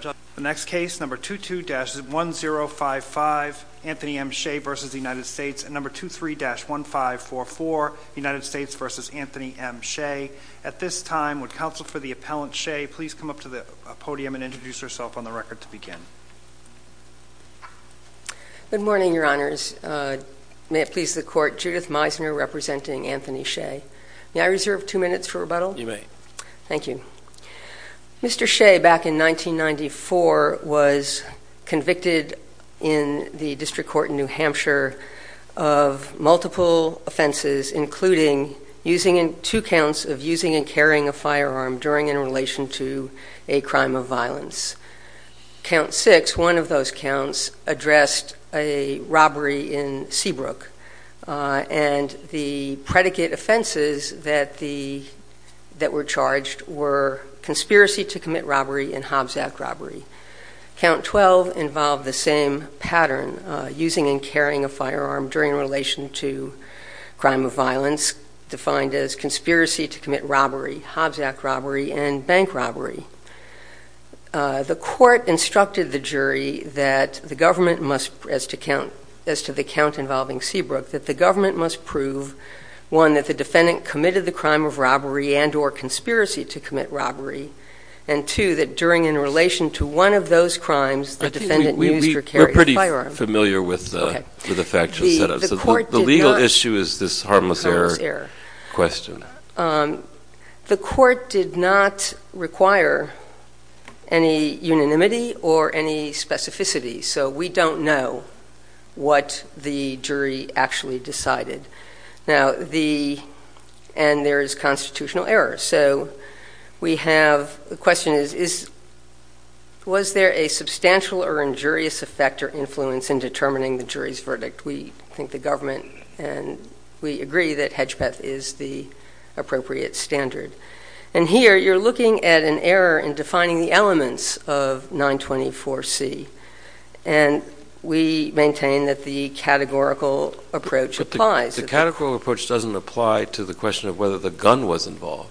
The next case, number 22-1055, Anthony M. Shea v. United States, and number 23-1544, United States v. Anthony M. Shea. At this time, would counsel for the appellant, Shea, please come up to the podium and introduce herself on the record to begin. Good morning, Your Honors. May it please the Court, Judith Meisner representing Anthony Shea. May I reserve two minutes for rebuttal? You may. Thank you. Mr. Shea, back in 1994, was convicted in the District Court in New Hampshire of multiple offenses, including two counts of using and carrying a firearm during and in relation to a crime of violence. Count six, one of those counts, addressed a robbery in Seabrook, and the predicate offenses that were charged were conspiracy to commit robbery and Hobbs Act robbery. Count 12 involved the same pattern, using and carrying a firearm during and in relation to a crime of violence, defined as conspiracy to commit robbery, Hobbs Act robbery, and bank robbery. The Court instructed the jury that the government must, as to the count involving Seabrook, that the government must prove, one, that the defendant committed the crime of robbery and or conspiracy to commit robbery, and two, that during and in relation to one of those crimes, the defendant used or carried a firearm. I think we're pretty familiar with the factual setup. The legal issue is this harmless error question. The Court did not require any unanimity or any specificity, so we don't know what the judge actually decided. And there is constitutional error, so we have, the question is, was there a substantial or injurious effect or influence in determining the jury's verdict? We think the government, and we agree that Hedgepeth is the appropriate standard. And here, you're looking at an error in defining the elements of 924C, and we maintain that the categorical approach applies. The categorical approach doesn't apply to the question of whether the gun was involved.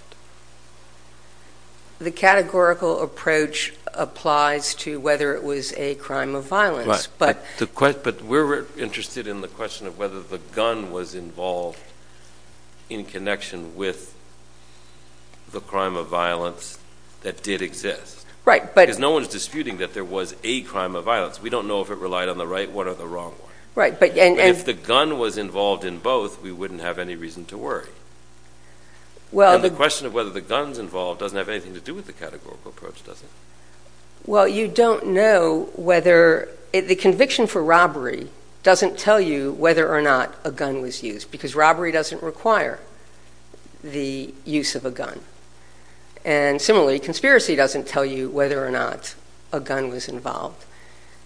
The categorical approach applies to whether it was a crime of violence, but... But we're interested in the question of whether the gun was involved in connection with the crime of violence that did exist. Right, but... Because no one's disputing that there was a crime of violence. We don't know if it relied on the right one or the wrong one. Right, but... If the gun was involved in both, we wouldn't have any reason to worry. Well, the... And the question of whether the gun's involved doesn't have anything to do with the categorical approach, does it? Well, you don't know whether, the conviction for robbery doesn't tell you whether or not a gun was used, because robbery doesn't require the use of a gun. And similarly, conspiracy doesn't tell you whether or not a gun was involved.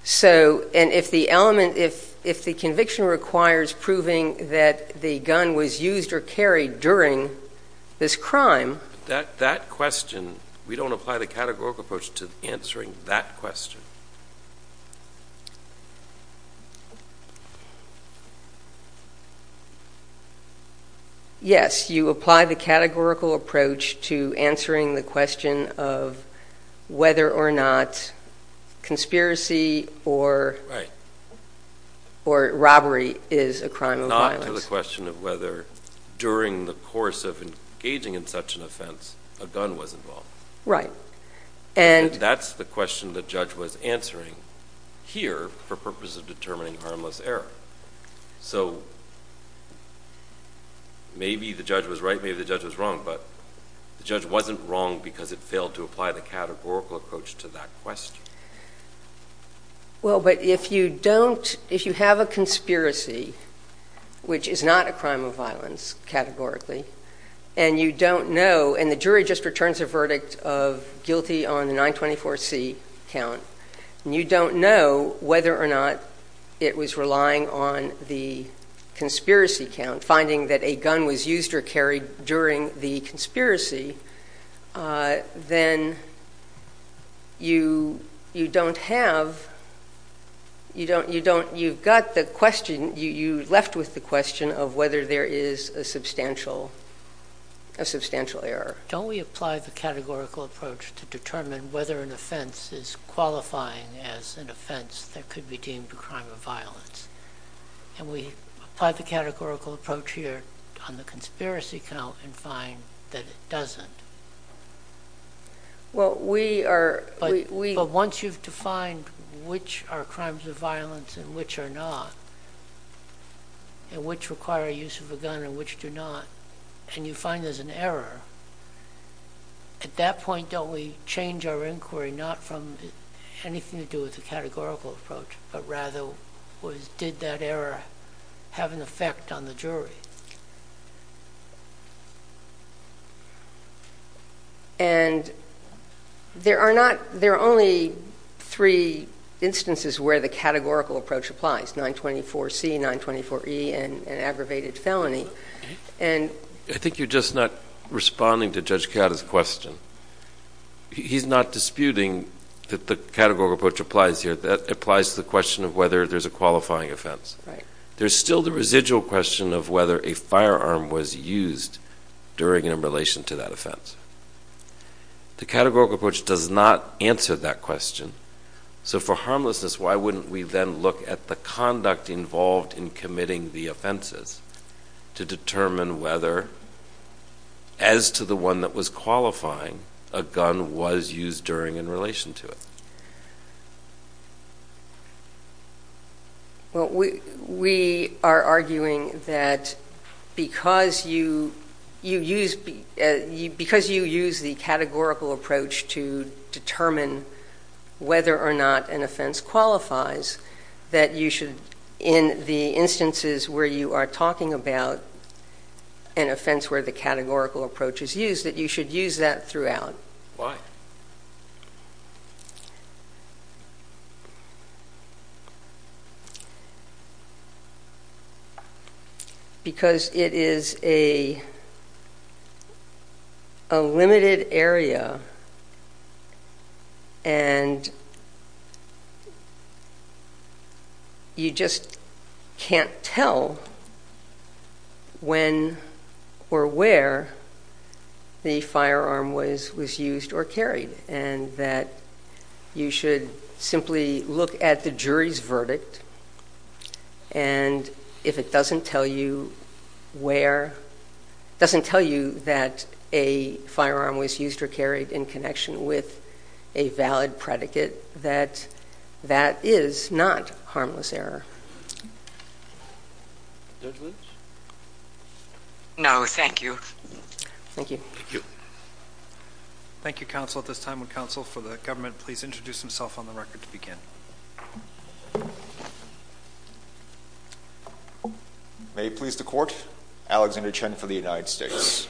So, and if the element, if the conviction requires proving that the gun was used or carried during this crime... That question, we don't apply the categorical approach to answering that question. Yes, you apply the categorical approach to answering the question of whether or not conspiracy or robbery is a crime of violence. Not to the question of whether, during the course of engaging in such an offense, a gun was involved. Right, and... That's the question the judge was answering here for purposes of determining harmless error. So maybe the judge was right, maybe the judge was wrong, but the judge wasn't wrong because it failed to apply the categorical approach to that question. Well, but if you don't, if you have a conspiracy, which is not a crime of violence, categorically, and you don't know, and the jury just returns a verdict of guilty on the 924C count, and you don't know whether or not it was relying on the conspiracy count, finding that a gun was used or carried during the conspiracy, then you don't have, you've got the question, you left with the question of whether there is a substantial, a substantial error. Don't we apply the categorical approach to determine whether an offense is qualifying as an offense that could be deemed a crime of violence? And we apply the categorical approach here on the conspiracy count and find that it doesn't. Well, we are, we, we, but once you've defined which are crimes of violence and which are not, and which require use of a gun and which do not, and you find there's an error, at that point, don't we change our inquiry, not from anything to do with the categorical approach, but rather was, did that error have an effect on the jury? And there are not, there are only three instances where the categorical approach applies, 924C, 924E, and aggravated felony, and... I think you're just not responding to Judge Cata's question. He's not disputing that the categorical approach applies here. That applies to the question of whether there's a qualifying offense. Right. There's still the residual question of whether a firearm was used during and in relation to that offense. The categorical approach does not answer that question. So for harmlessness, why wouldn't we then look at the conduct involved in committing the offenses to determine whether, as to the one that was qualifying, a gun was used during in relation to it? Well, we, we are arguing that because you, you use, as, as a, as a, as a, as a, as a because you use the categorical approach to determine whether or not an offense qualifies, that you should, in the instances where you are talking about an offense where the categorical approach is used, that you should use that throughout. Why? Because it is a, a limited area, and you just can't tell when or where the firearm was, was used or carried, and that you should simply look at the jury's verdict, and if it doesn't tell you where, doesn't tell you that a firearm was used or carried in connection with a valid predicate, that, that is not harmless error. Judge Williams? No, thank you. Thank you. Thank you. Thank you, counsel. At this time, would counsel for the government please introduce himself on the record to begin? May it please the Court, Alexander Chen for the United States.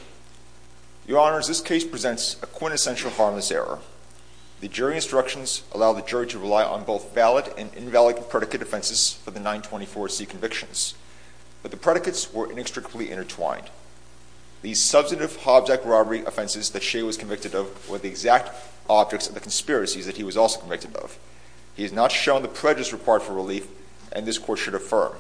Your Honors, this case presents a quintessential harmless error. The jury instructions allow the jury to rely on both valid and invalid predicate offenses for the 924C convictions, but the predicates were inextricably intertwined. The substantive Hobbs Act robbery offenses that Shea was convicted of were the exact objects of the conspiracies that he was also convicted of. He has not shown the prejudice required for relief, and this Court should affirm.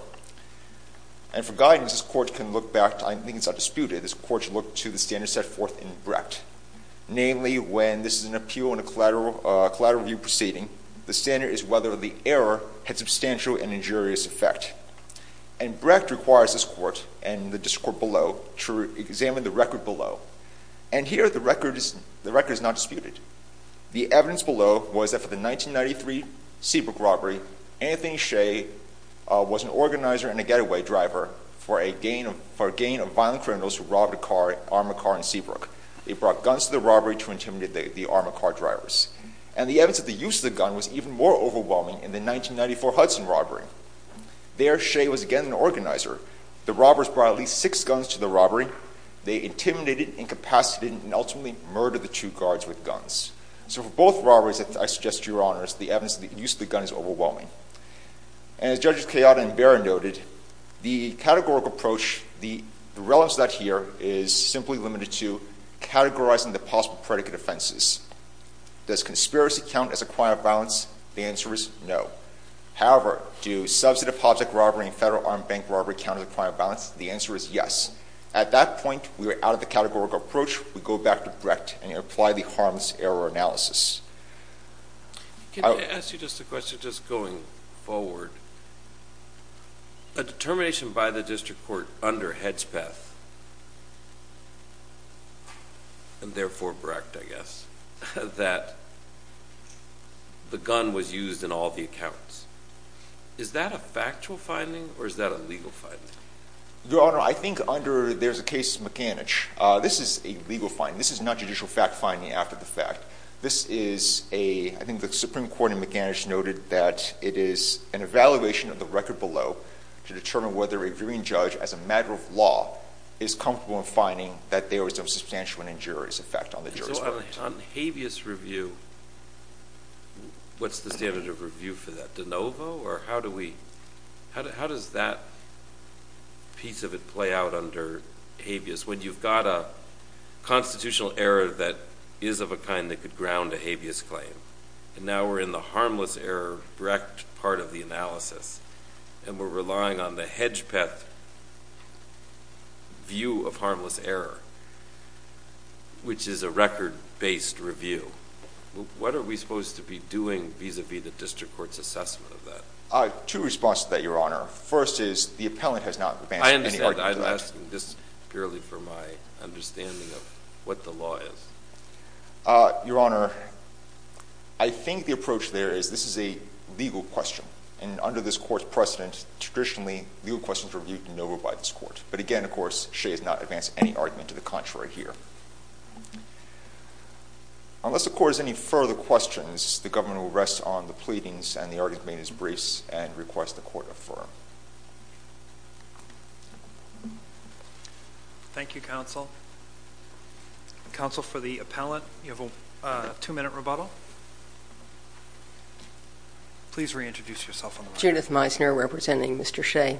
And for guidance, this Court can look back to, I think it's not disputed, this Court should look to the standards set forth in Brecht. Namely, when this is an appeal in a collateral, a collateral review proceeding, the standard is whether the error had substantial and injurious effect. And Brecht requires this Court and the district court below to examine the record below. And here the record is not disputed. The evidence below was that for the 1993 Seabrook robbery, Anthony Shea was an organizer and a getaway driver for a gang of violent criminals who robbed a car, an armored car in Seabrook. They brought guns to the robbery to intimidate the armored car drivers. And the evidence of the use of gun was even more overwhelming in the 1994 Hudson robbery. There, Shea was again an organizer. The robbers brought at least six guns to the robbery. They intimidated, incapacitated, and ultimately murdered the two guards with guns. So for both robberies, I suggest, Your Honors, the evidence of the use of the gun is overwhelming. And as Judges Chiata and Barron noted, the categorical approach, the relevance of that here is simply limited to categorizing the possible predicate offenses. Does conspiracy count as a crime of violence? The answer is no. However, do substantive object robbery and federal armed bank robbery count as a crime of violence? The answer is yes. At that point, we are out of the categorical approach. We go back to Brecht and apply the harms error analysis. Can I ask you just a question, just going forward? A determination by the district court under Hedspeth, and therefore Brecht, I guess, that the gun was used in all the accounts. Is that a factual finding, or is that a legal finding? Your Honor, I think under there's a case mechanic. This is a legal finding. This is not judicial fact finding after the fact. This is a, I think the Supreme Court mechanic noted that it is an evaluation of the record below to determine whether a viewing judge as a matter of law is comfortable in finding that there was a substantial and injurious effect on the jurisprudence. So on habeas review, what's the standard of review for that? De novo, or how do we, how does that piece of it play out under habeas when you've got a constitutional error that is of a kind that could ground a habeas claim? And now we're in the harmless error Brecht part of the analysis, and we're relying on the Hedspeth view of harmless error, which is a record-based review. What are we supposed to be doing vis-a-vis the district court's assessment of that? Two responses to that, Your Honor. First is the appellant has not advanced any argument to that. I'm asking this purely for my understanding of what the law is. Your Honor, I think the approach there is this is a legal question. And under this court's precedent, traditionally, legal questions were viewed de novo by this court. But again, of course, she has not advanced any argument to the contrary here. Unless the court has any further questions, the government will rest on the pleadings, and the argument is request the court affirm. Thank you, counsel. Counsel, for the appellant, you have a two-minute rebuttal. Please reintroduce yourself on the mic. Judith Meisner, representing Mr. Shea.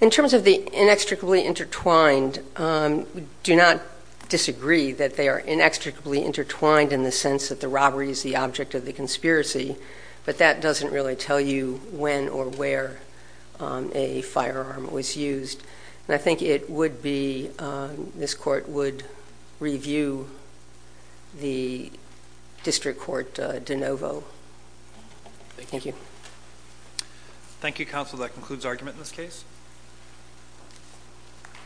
In terms of the inextricably intertwined, we do not disagree that they are inextricably intertwined in the sense that the robbery is the object of the conspiracy. But that doesn't really tell you when or where a firearm was used. And I think it would be, this court would review the district court de novo. Thank you. Thank you, counsel. That concludes argument in this case.